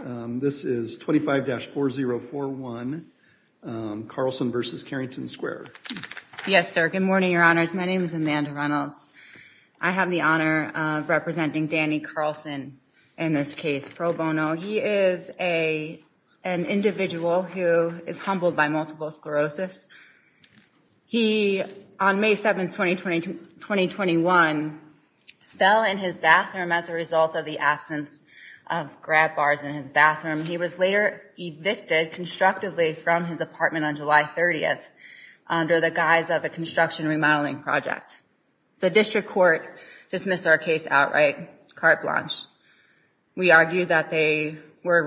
This is 25-4041 Carlson v. Carrington Square. Yes, sir, good morning, your honors. My name is Amanda Reynolds. I have the honor of representing Danny Carlson in this case pro bono. He is an individual who is humbled by multiple sclerosis. He, on May 7, 2021, fell in his bathroom as a result of the absence of grab bars in his bathroom. He was later evicted constructively from his apartment on July 30th under the guise of a construction remodeling project. The district court dismissed our case outright, carte blanche. We argue that they were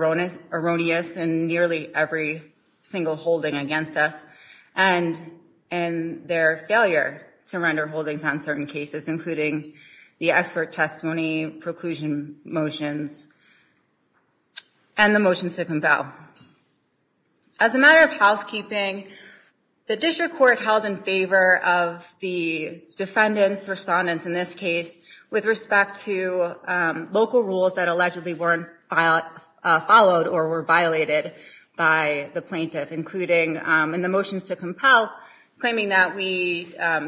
erroneous in nearly every single holding against us and their failure to render holdings on certain cases, including the expert testimony, preclusion motions, and the motions to compel. As a matter of housekeeping, the district court held in favor of the defendants, respondents in this case, with respect to local rules that allegedly weren't followed or were violated by the plaintiff, including in the motions to compel, claiming that we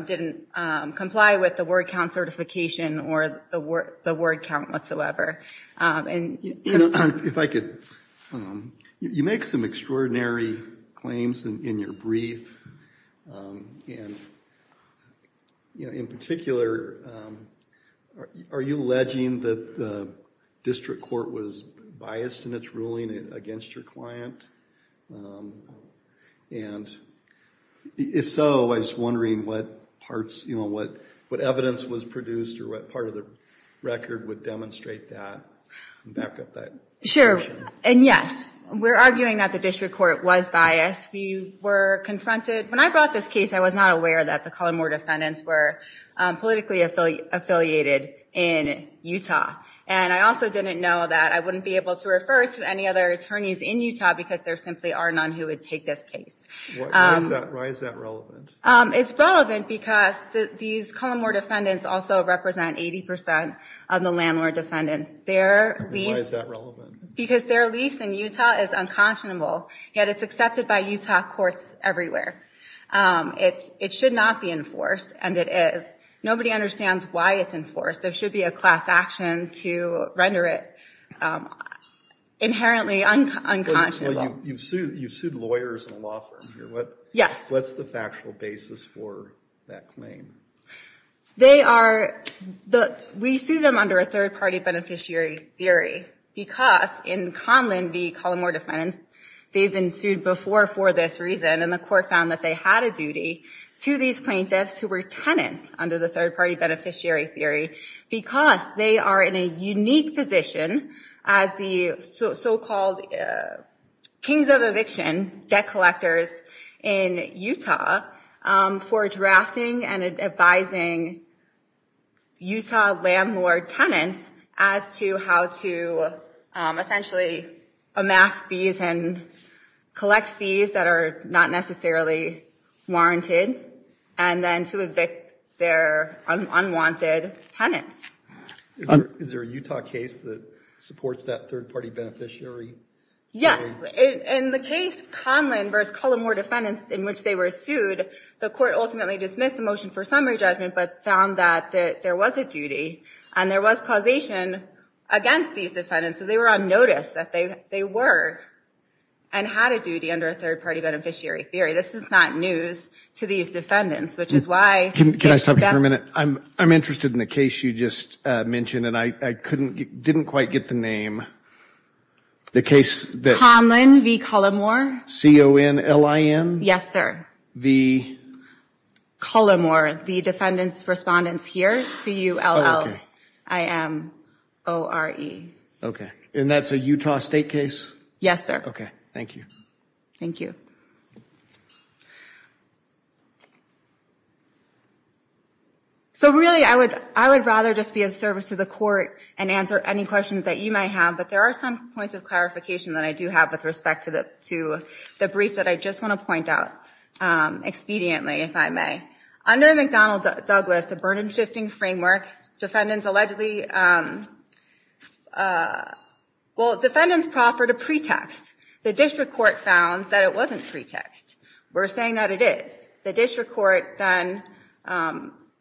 didn't comply with the word count certification or the word count whatsoever. You make some extraordinary claims in your brief. In particular, are you alleging that the district court was biased in its ruling against your client? And if so, I was wondering what parts, you know, what evidence was produced or what part of the record would demonstrate that? Back up that. Sure, and yes, we're arguing that the district court was biased. We were confronted, when I brought this case, I was not aware that the Collinmore defendants were politically affiliated in Utah. And I also didn't know that I wouldn't be able to refer to any other attorneys in Utah because there simply are none who would take this case. Why is that relevant? It's relevant because these Collinmore defendants also represent 80% of the landlord defendants. Their lease in Utah is unconscionable, yet it's accepted by Utah courts everywhere. It should not be enforced, and it is. Nobody understands why it's enforced. There should be a class action to render it inherently unconscionable. You've sued lawyers in a law firm here. Yes. What's the factual basis for that claim? We sue them under a third-party beneficiary theory because in Conlin v. Collinmore defendants, they've been sued before for this reason, and the court found that they had a duty to these plaintiffs who were tenants under the third-party beneficiary theory because they are in a unique position as the so-called kings of eviction debt collectors in Utah for drafting and advising Utah landlord tenants as to how to essentially amass fees and collect fees that are not necessarily warranted, and then to evict their unwanted tenants. Is there a Utah case that supports that third-party beneficiary? Yes. In the case Conlin v. Collinmore defendants in which they were sued, the court ultimately dismissed the motion for summary judgment, but found that there was a duty, and there was causation against these defendants, so they were on notice that they were and had a duty under a third-party beneficiary theory. This is not news to these defendants, which is why- Can I stop you for a minute? I'm interested in the case you just mentioned, and I didn't quite get the name. The case that- Conlin v. Collinmore. C-O-N-L-I-N? Yes, sir. The- Collinmore, the defendants' respondents here, C-U-L-L-I-M-O-R-E. Okay, and that's a Utah State case? Yes, sir. Okay, thank you. Thank you. So really, I would rather just be of service to the court and answer any questions that you might have, but there are some points of clarification that I do have with respect to the brief that I just want to point out expediently, if I may. Under McDonnell-Douglas, a burden-shifting framework, defendants allegedly- Well, defendants proffered a pretext. The district court found that it wasn't pretext. We're saying that it is. The district court then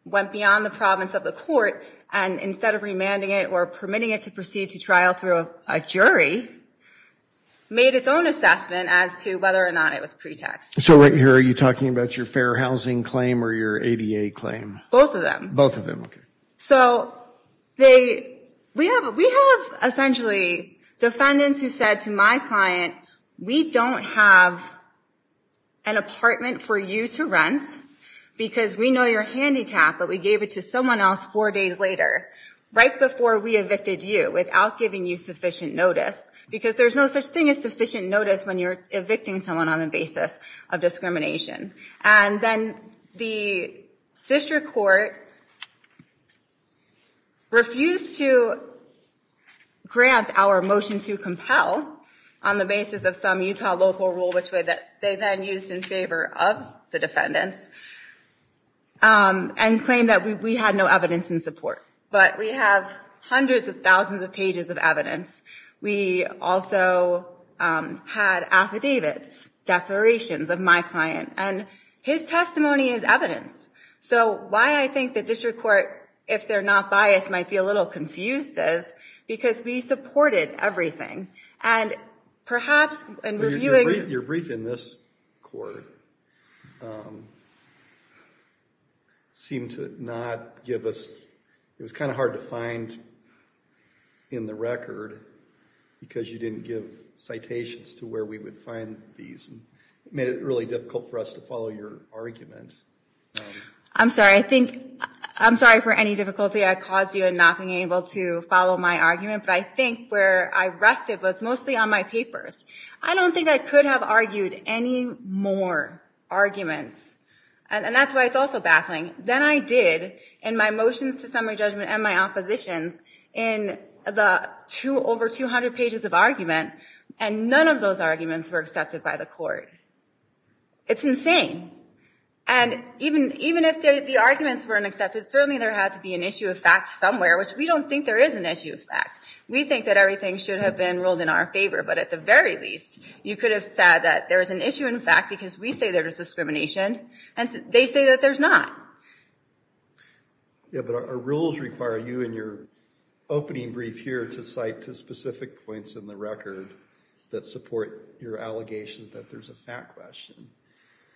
went beyond the province of the court, and instead of remanding it or permitting it to proceed to trial through a jury, made its own assessment as to whether or not it was pretext. So right here, are you talking about your fair housing claim or your ADA claim? Both of them. Both of them, okay. So they, we have essentially defendants who said to my client, we don't have an apartment for you to rent because we know you're handicapped, but we gave it to someone else four days later, right before we evicted you, without giving you sufficient notice, because there's no such thing as sufficient notice when you're evicting someone on the basis of discrimination. And then the district court refused to grant our motion to compel on the basis of some Utah local rule, which they then used in favor of the defendants, and claimed that we had no evidence in support. But we have hundreds of thousands of pages of evidence. We also had affidavits, declarations of my client, and his testimony is evidence. So why I think the district court, if they're not biased, might be a little confused is because we supported everything. And perhaps in reviewing- Your brief in this court seemed to not give us, it was kind of hard to find in the record because you didn't give citations to where we would find these. It made it really difficult for us to follow your argument. I'm sorry. I think, I'm sorry for any difficulty I caused you in not being able to follow my argument, but I think where I rested was mostly on my papers. I don't think I could have argued any more arguments. And that's why it's also baffling. Then I did, in my motions to summary judgment and my oppositions, in the over 200 pages of argument, and none of those arguments were accepted by the court. It's insane. And even if the arguments weren't accepted, certainly there had to be an issue of fact somewhere, which we don't think there is an issue of fact. We think that everything should have been ruled in our favor, but at the very least, you could have said that there is an issue in fact because we say there is discrimination and they say that there's not. Yeah, but our rules require you in your opening brief here to cite to specific points in the record that support your allegation that there's a fact question.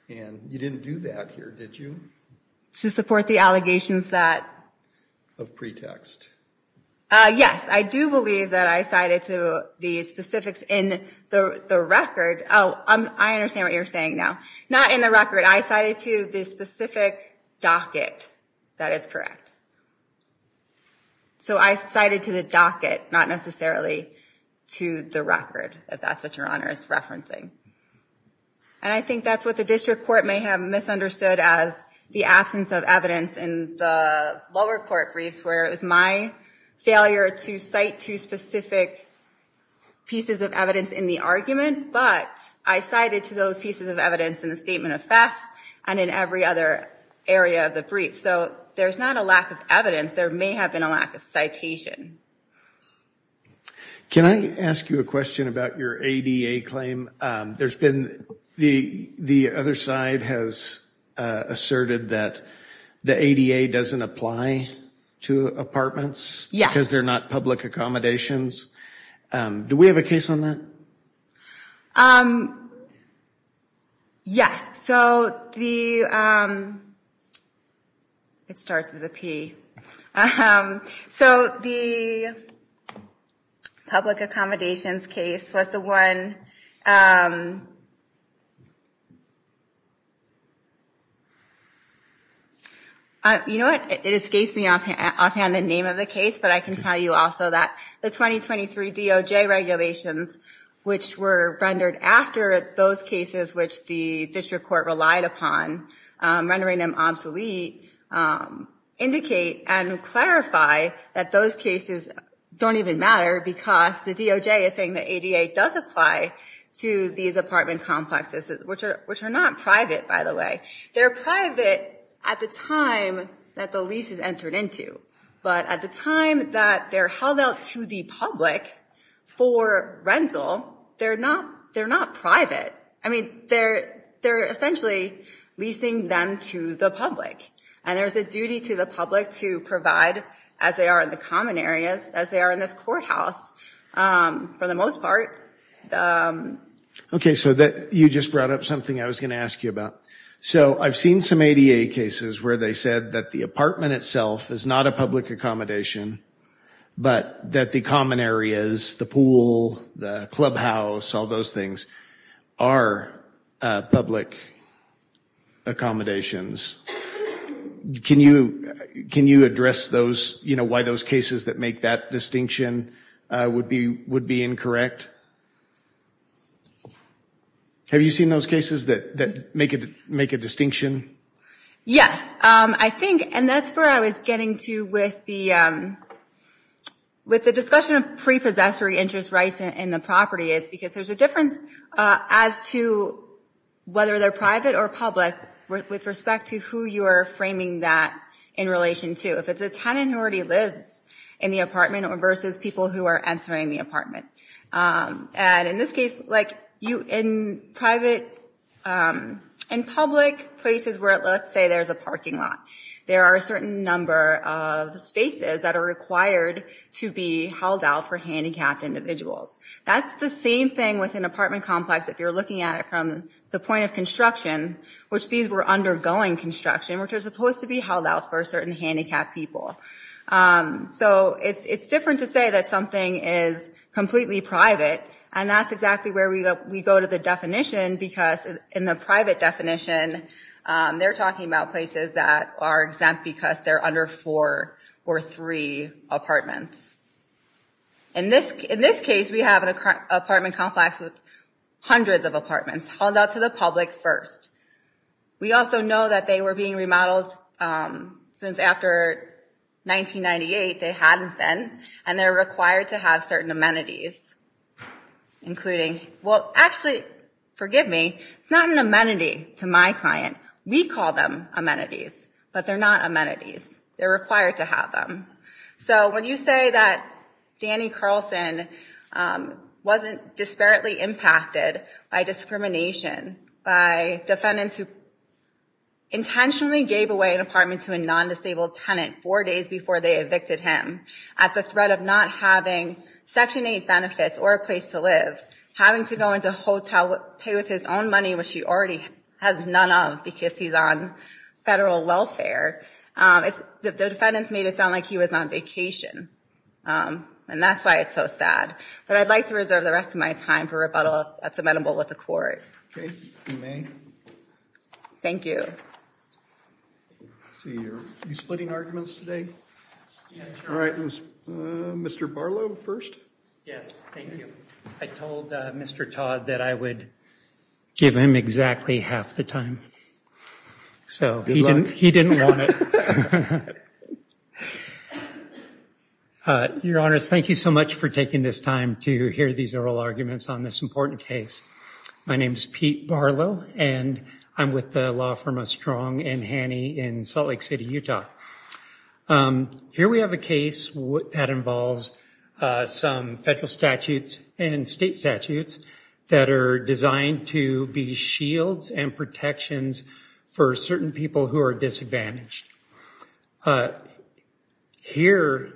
And you didn't do that here, did you? To support the allegations that? Of pretext. Yes, I do believe that I cited to the specifics in the record, oh, I understand what you're saying now. Not in the record, I cited to the specific docket that is correct. So I cited to the docket, not necessarily to the record, if that's what your honor is referencing. And I think that's what the district court may have misunderstood as the absence of evidence in the lower court briefs, where it was my failure to cite to specific pieces of evidence in the argument, but I cited to those pieces of evidence in the statement of facts and in every other area of the brief. So there's not a lack of evidence, there may have been a lack of citation. Can I ask you a question about your ADA claim? There's been, the other side has asserted that the ADA doesn't apply to apartments. Yes. Because they're not public accommodations. Do we have a case on that? Yes, so the, it starts with a P. So the public accommodations case was the one that, you know what, it escapes me offhand the name of the case, but I can tell you also that the 2023 DOJ regulations, which were rendered after those cases which the district court relied upon, rendering them obsolete, indicate and clarify that those cases don't even matter because the DOJ is saying the ADA does apply to these apartment complexes, which are not private, by the way. They're private at the time that the lease is entered into, but at the time that they're held out to the public for rental, they're not private. I mean, they're essentially leasing them to the public and there's a duty to the public to provide, as they are in the common areas, as they are in this courthouse, for the most part, for the most part. Okay, so you just brought up something I was gonna ask you about. So I've seen some ADA cases where they said that the apartment itself is not a public accommodation, but that the common areas, the pool, the clubhouse, all those things are public accommodations. Can you address those, you know, why those cases that make that distinction would be incorrect? Have you seen those cases that make a distinction? Yes, I think, and that's where I was getting to with the discussion of prepossessory interest rights in the property is because there's a difference as to whether they're private or public with respect to who you are framing that in relation to. If it's a tenant who already lives in the apartment versus people who are entering the apartment. And in this case, in private and public places where let's say there's a parking lot, there are a certain number of spaces that are required to be held out for handicapped individuals. That's the same thing with an apartment complex if you're looking at it from the point of construction, which these were undergoing construction, which are supposed to be held out for certain handicapped people. So it's different to say that something is completely private, and that's exactly where we go to the definition because in the private definition, they're talking about places that are exempt because they're under four or three apartments. In this case, we have an apartment complex with hundreds of apartments held out to the public first. We also know that they were being remodeled since after 1998, they hadn't been, and they're required to have certain amenities, including, well, actually, forgive me, it's not an amenity to my client. We call them amenities, but they're not amenities. They're required to have them. So when you say that Danny Carlson wasn't disparately impacted by discrimination by defendants who intentionally gave away an apartment to a non-disabled tenant four days before they evicted him at the threat of not having Section 8 benefits or a place to live, having to go into a hotel, pay with his own money, which he already has none of because he's on federal welfare, the defendants made it sound like he was on vacation, and that's why it's so sad. But I'd like to reserve the rest of my time for rebuttal if that's amenable with the court. Okay, if you may. Thank you. So you're splitting arguments today? Yes, sir. All right, Mr. Barlow first? Yes, thank you. I told Mr. Todd that I would give him exactly half the time. So he didn't want it. Ha ha ha. Ha ha ha. Your Honors, thank you so much for taking this time to hear these oral arguments on this important case. My name's Pete Barlow, and I'm with the law firm of Strong and Hanney in Salt Lake City, Utah. Here we have a case that involves some federal statutes and state statutes that are designed to be shields and protections for certain people who are disadvantaged. Here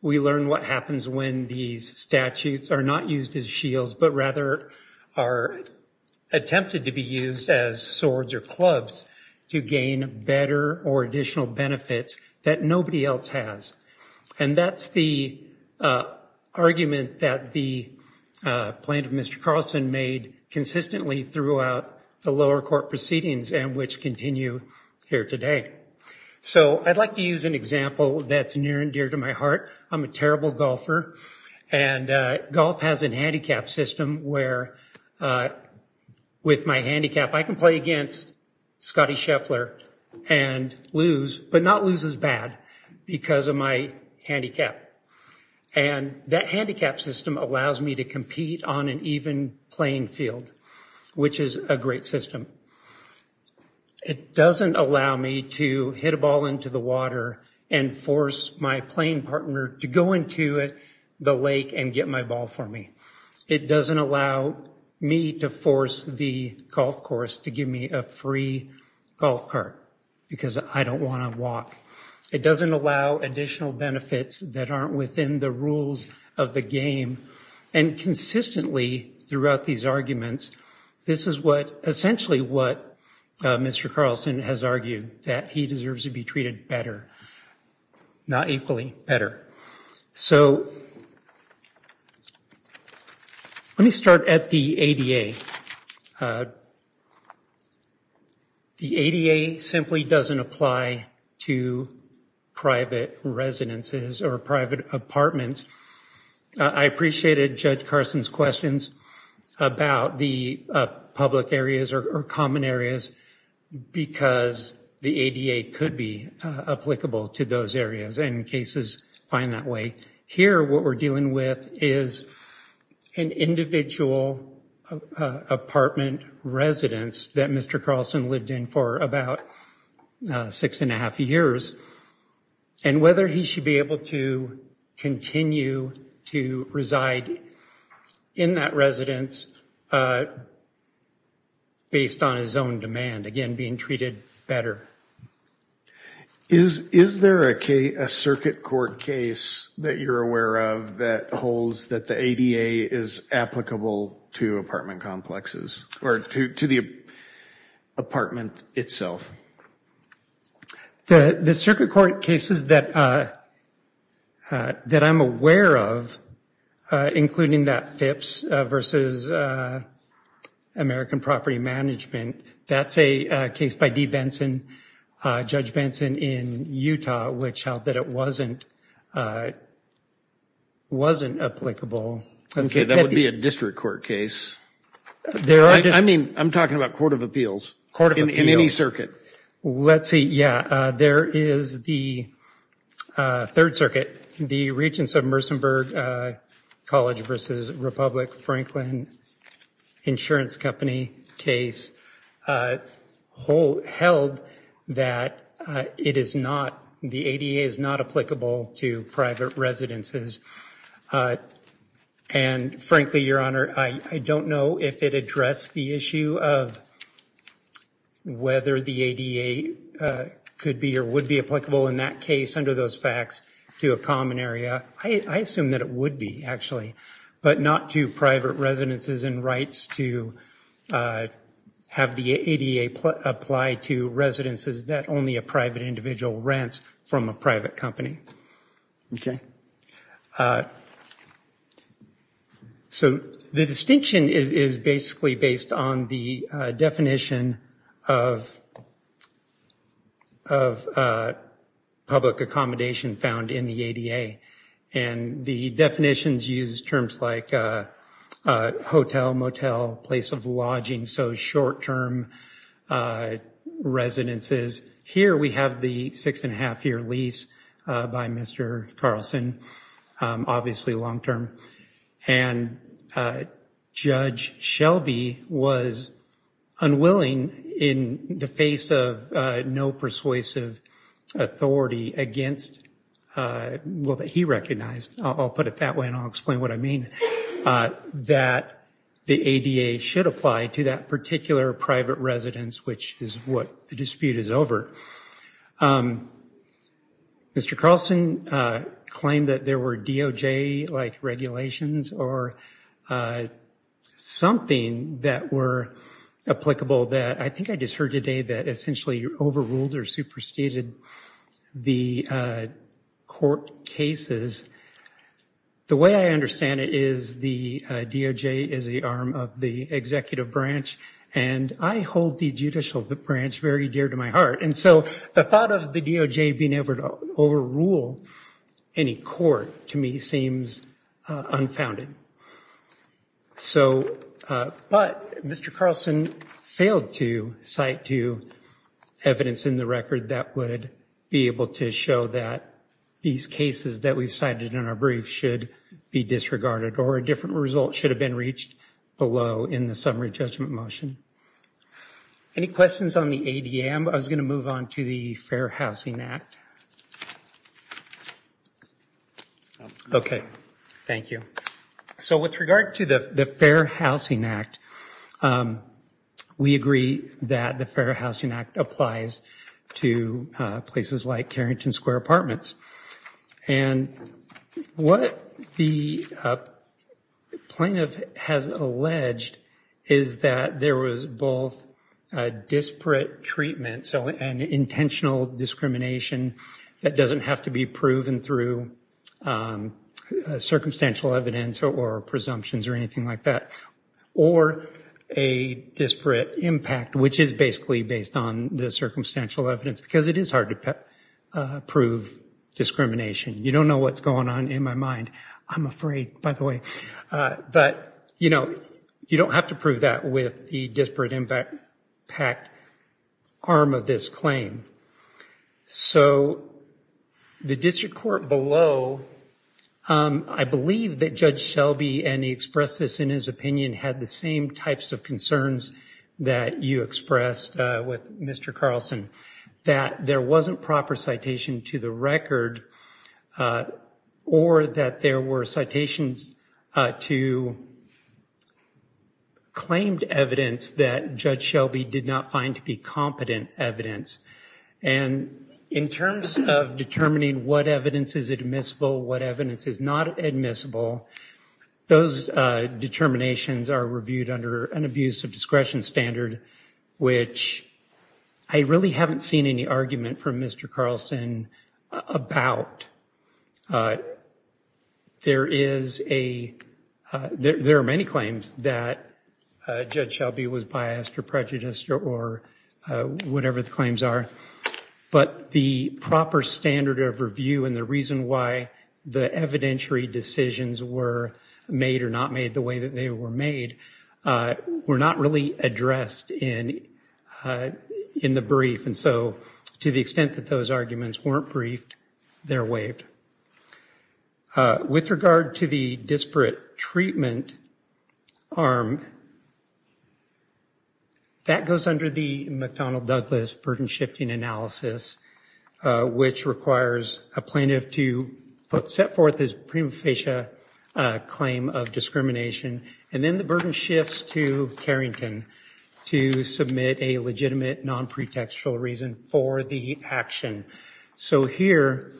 we learn what happens when these statutes are not used as shields, but rather are attempted to be used as swords or clubs to gain better or additional benefits that nobody else has. And that's the argument that the Plaintiff, Mr. Carlson, made consistently throughout the lower court proceedings and which continue here today. So I'd like to use an example that's near and dear to my heart. I'm a terrible golfer, and golf has an handicap system where with my handicap, I can play against Scotty Scheffler and lose, but not lose as bad, because of my handicap. And that handicap system allows me to compete on an even playing field, which is a great system. It doesn't allow me to hit a ball into the water and force my playing partner to go into the lake and get my ball for me. It doesn't allow me to force the golf course to give me a free golf cart, because I don't wanna walk. It doesn't allow additional benefits that aren't within the rules of the game. And consistently throughout these arguments, this is what, essentially what Mr. Carlson has argued, that he deserves to be treated better, not equally better. So let me start at the ADA. The ADA simply doesn't apply to private residences or private apartments. I appreciated Judge Carson's questions about the public areas or common areas, because the ADA could be applicable to those areas and cases find that way. Here, what we're dealing with is an individual apartment residence that Mr. Carlson lived in for about six and a half years, and whether he should be able to continue to reside in that residence based on his own demand, again, being treated better. Is there a circuit court case that you're aware of that holds that the ADA is applicable to apartment complexes, or to the apartment itself? The circuit court cases that I'm aware of, including that Phipps versus American Property Management, that's a case by Dee Benson, Judge Benson in Utah, which held that it wasn't applicable. Okay, that would be a district court case. I mean, I'm talking about court of appeals. Court of appeals. In any circuit. Let's see, yeah, there is the Third Circuit, the Regents of Mersenburg College versus Republic Franklin Insurance Company case, held that it is not, the ADA is not applicable to private residences. And frankly, Your Honor, I don't know if it addressed the issue of whether the ADA could be or would be applicable in that case under those facts to a common area. I assume that it would be, actually, but not to private residences and rights to have the ADA apply to residences that only a private individual rents from a private company. Okay. So the distinction is basically based on the definition of public accommodation found in the ADA. And the definitions use terms like hotel, motel, place of lodging, so short-term residences. Here we have the six and a half year lease by Mr. Carlson, obviously long-term. And Judge Shelby was unwilling in the face of no persuasive authority against, well, that he recognized, I'll put it that way and I'll explain what I mean, that the ADA should apply to that particular private residence, which is what the dispute is over. Mr. Carlson claimed that there were DOJ-like regulations or something that were applicable that, I think I just heard today that essentially overruled or superseded the court cases. The way I understand it is the DOJ is the arm of the executive branch, and I hold the judicial branch very dear to my heart. And so the thought of the DOJ being able to overrule any court, to me, seems unfounded. So, but Mr. Carlson failed to cite to evidence in the record that would be able to show that these cases that we've cited in our brief should be disregarded, or a different result should have been reached below in the summary judgment motion. Any questions on the ADM? I was gonna move on to the Fair Housing Act. Okay, thank you. So with regard to the Fair Housing Act, we agree that the Fair Housing Act applies to places like Carrington Square Apartments. And what the plaintiff has alleged is that there was both disparate treatment, so an intentional discrimination that doesn't have to be proven through circumstantial evidence or presumptions or anything like that. Or a disparate impact, which is basically based on the circumstantial evidence, because it is hard to prove discrimination. You don't know what's going on in my mind, I'm afraid, by the way. But you don't have to prove that with the disparate impact arm of this claim. So the district court below, I believe that Judge Shelby, and he expressed this in his opinion, had the same types of concerns that you expressed with Mr. Carlson, that there wasn't proper citation to the record, or that there were citations to claimed evidence that Judge Shelby did not find to be competent evidence. And in terms of determining what evidence is admissible, what evidence is not admissible, those determinations are reviewed under an abuse of discretion standard, which I really haven't seen any argument from Mr. Carlson about. There are many claims that Judge Shelby was biased or prejudiced or whatever the claims are, but the proper standard of review and the reason why the evidentiary decisions were made or not made the way that they were made were not really addressed in the brief. And so to the extent that those arguments weren't briefed, they're waived. With regard to the disparate treatment arm, that goes under the McDonnell-Douglas burden shifting analysis, which requires a plaintiff to set forth his prima facie claim of discrimination, and then the burden shifts to Carrington to submit a legitimate non-pretextual reason for the action. So here,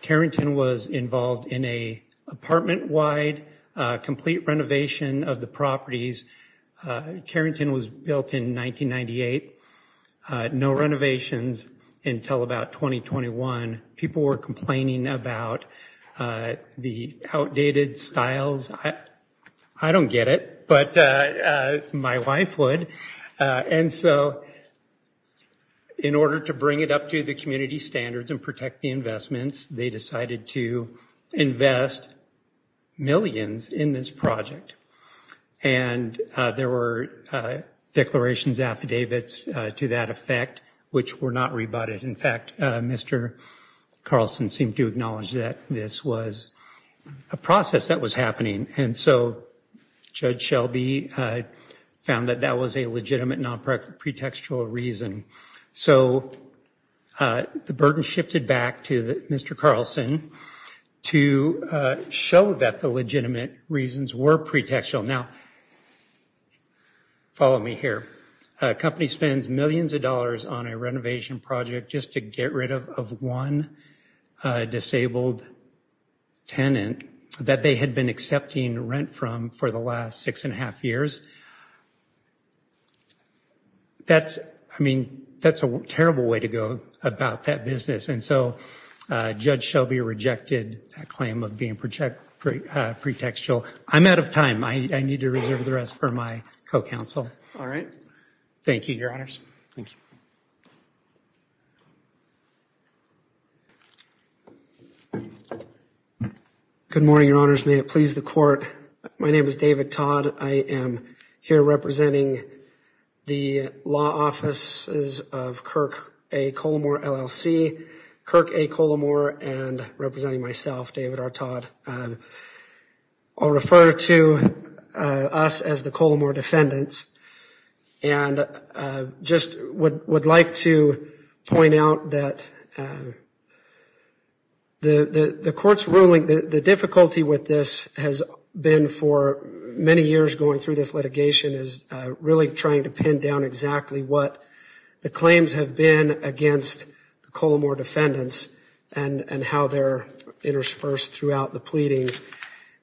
Carrington was involved in a apartment-wide complete renovation of the properties. Carrington was built in 1998. No renovations until about 2021. People were complaining about the outdated styles. I don't get it, but my wife would. And so in order to bring it up to the community standards and protect the investments, they decided to invest millions in this project. And there were declarations, affidavits to that effect, which were not rebutted. In fact, Mr. Carlson seemed to acknowledge that this was a process that was happening. And so Judge Shelby found that that was a legitimate non-pretextual reason. So the burden shifted back to Mr. Carlson to show that the legitimate reasons were pretextual. Now, follow me here. A company spends millions of dollars on a renovation project just to get rid of one disabled tenant that they had been accepting rent from for the last six and a half years. That's, I mean, that's a terrible way to go about that business. And so Judge Shelby rejected that claim of being pretextual. I'm out of time. I need to reserve the rest for my co-counsel. All right. Thank you, your honors. Thank you. Good morning, your honors. May it please the court. My name is David Todd. I am here representing the law offices of Kirk A. Colomore LLC and representing myself, David R. Todd. I'll refer to us as the Colomore defendants. And just would like to point out that the court's ruling, the difficulty with this has been for many years going through this litigation is really trying to pin down exactly what the claims have been against the Colomore defendants and how they're interspersed throughout the pleadings.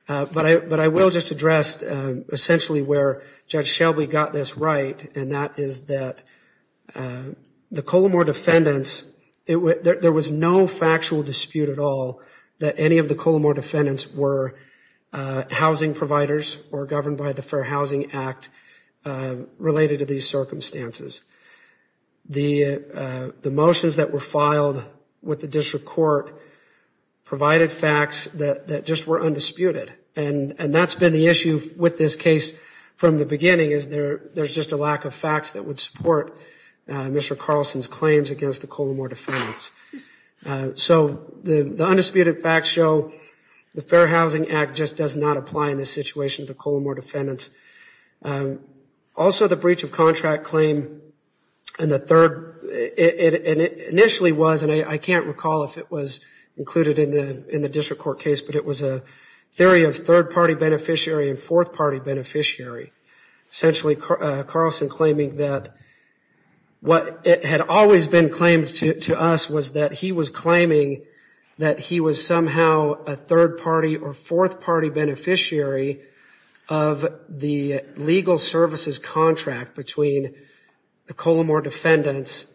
But I will just address essentially where Judge Shelby got this right. And that is that the Colomore defendants, there was no factual dispute at all that any of the Colomore defendants were housing providers or governed by the Fair Housing Act related to these circumstances. The motions that were filed with the district court provided facts that just were undisputed. And that's been the issue with this case from the beginning is there's just a lack of facts that would support Mr. Carlson's claims against the Colomore defendants. So the undisputed facts show the Fair Housing Act just does not apply in this situation to the Colomore defendants. Also the breach of contract claim in the third, and it initially was, and I can't recall if it was included in the district court case, but it was a theory of third-party beneficiary and fourth-party beneficiary. Essentially Carlson claiming that what had always been claimed to us was that he was claiming that he was somehow a third-party or fourth-party beneficiary of the legal services contract between the Colomore defendants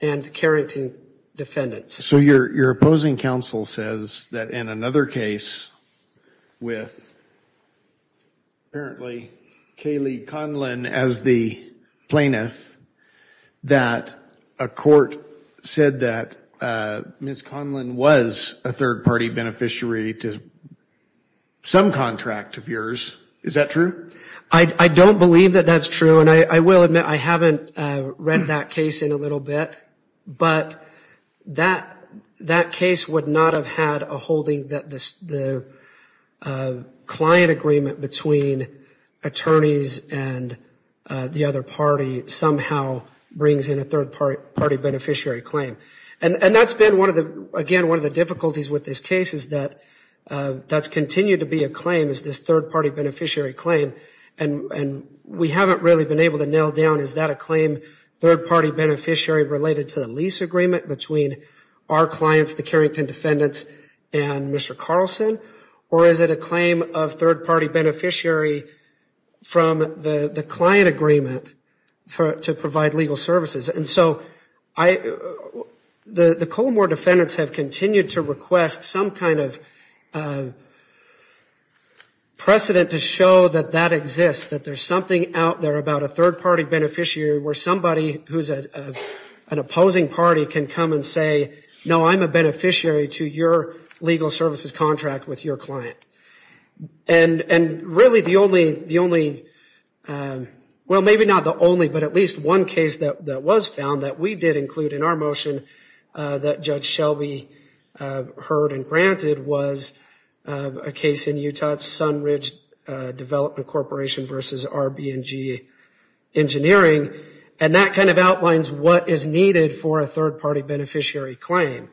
and the Carrington defendants. So your opposing counsel says that in another case with apparently Kaylee Conlin as the plaintiff that a court said that Ms. Conlin was a third-party beneficiary to some contract of yours. Is that true? I don't believe that that's true. And I will admit I haven't read that case in a little bit, but that case would not have had a holding that the client agreement between attorneys and the other party somehow brings in a third-party beneficiary claim. And that's been one of the, again, one of the difficulties with this case is that that's continued to be a claim is this third-party beneficiary claim. And we haven't really been able to nail down is that a claim third-party beneficiary related to the lease agreement between our clients, the Carrington defendants and Mr. Carlson, or is it a claim of third-party beneficiary from the client agreement to provide legal services? And so the Colomore defendants have continued to request some kind of precedent to show that that exists, that there's something out there about a third-party beneficiary where somebody who's an opposing party can come and say, no, I'm a beneficiary to your legal services contract with your client. And really the only, well, maybe not the only, but at least one case that was found that we did include in our motion that Judge Shelby heard and granted was a case in Utah, it's Sunridge Development Corporation versus RB&G Engineering. And that kind of outlines what is needed for a third-party beneficiary claim.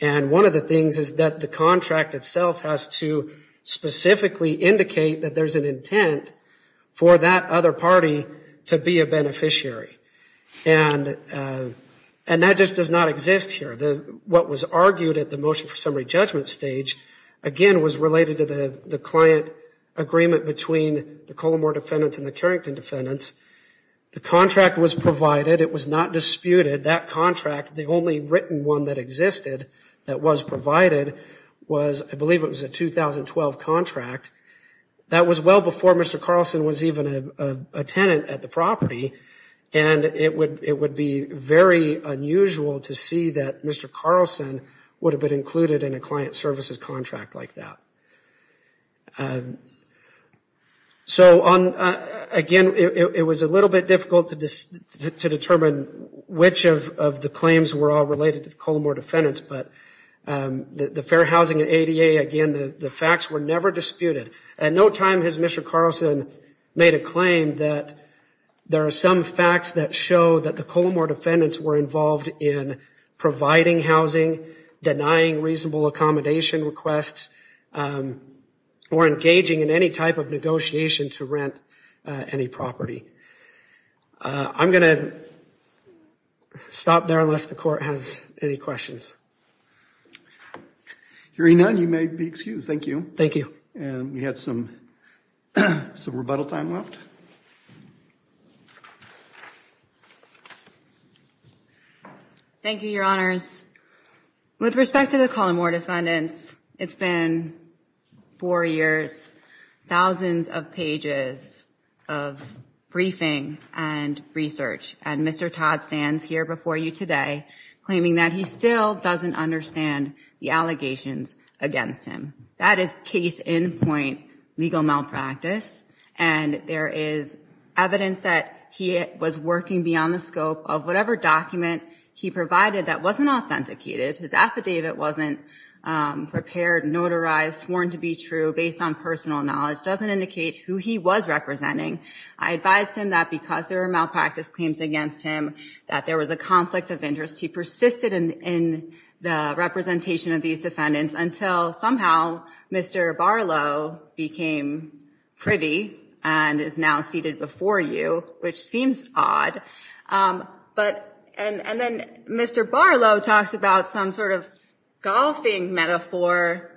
And one of the things is that the contract itself has to specifically indicate that there's an intent for that other party to be a beneficiary. And that just does not exist here. What was argued at the motion for summary judgment stage, again, was related to the client agreement between the Colomore defendants and the Carrington defendants. The contract was provided, it was not disputed. That contract, the only written one that existed that was provided was, I believe it was a 2012 contract. That was well before Mr. Carlson was even a tenant at the property. And it would be very unusual to see that Mr. Carlson would have been included in a client services contract like that. So again, it was a little bit difficult to determine which of the claims were all related to the Colomore defendants, but the Fair Housing and ADA, again, the facts were never disputed. At no time has Mr. Carlson made a claim that there are some facts that show that the Colomore defendants were involved in providing housing, denying reasonable accommodation requests, or engaging in any type of negotiation to rent any property. I'm gonna stop there unless the court has any questions. Hearing none, you may be excused, thank you. Thank you. And we had some rebuttal time left. Thank you, your honors. With respect to the Colomore defendants, it's been four years, thousands of pages of briefing and research. And Mr. Todd stands here before you today claiming that he still doesn't understand the allegations against him. That is case in point legal malpractice. And there is evidence that he was working beyond the scope of whatever document he provided that wasn't authenticated. His affidavit wasn't prepared, notarized, sworn to be true, based on personal knowledge, doesn't indicate who he was representing. I advised him that because there were malpractice claims against him, that there was a conflict of interest. He persisted in the representation of these defendants until somehow Mr. Barlow became pretty and is now seated before you, which seems odd. But, and then Mr. Barlow talks about some sort of golfing metaphor.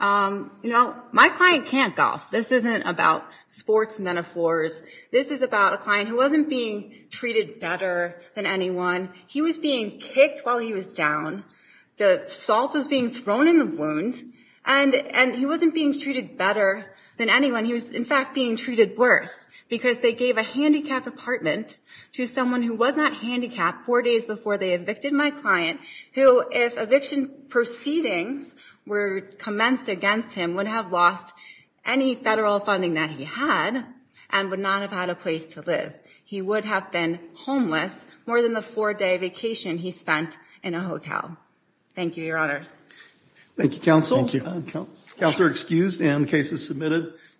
You know, my client can't golf. This isn't about sports metaphors. This is about a client who wasn't being treated better than anyone, he was being kicked while he was down. The salt was being thrown in the wound and he wasn't being treated better than anyone. He was, in fact, being treated worse because they gave a handicapped apartment to someone who was not handicapped four days before they evicted my client, who, if eviction proceedings were commenced against him, would have lost any federal funding that he had and would not have had a place to live. He would have been homeless more than the four day vacation he spent in a hotel. Thank you, your honors. Thank you, counsel. Thank you. Counselor excused and the case is submitted.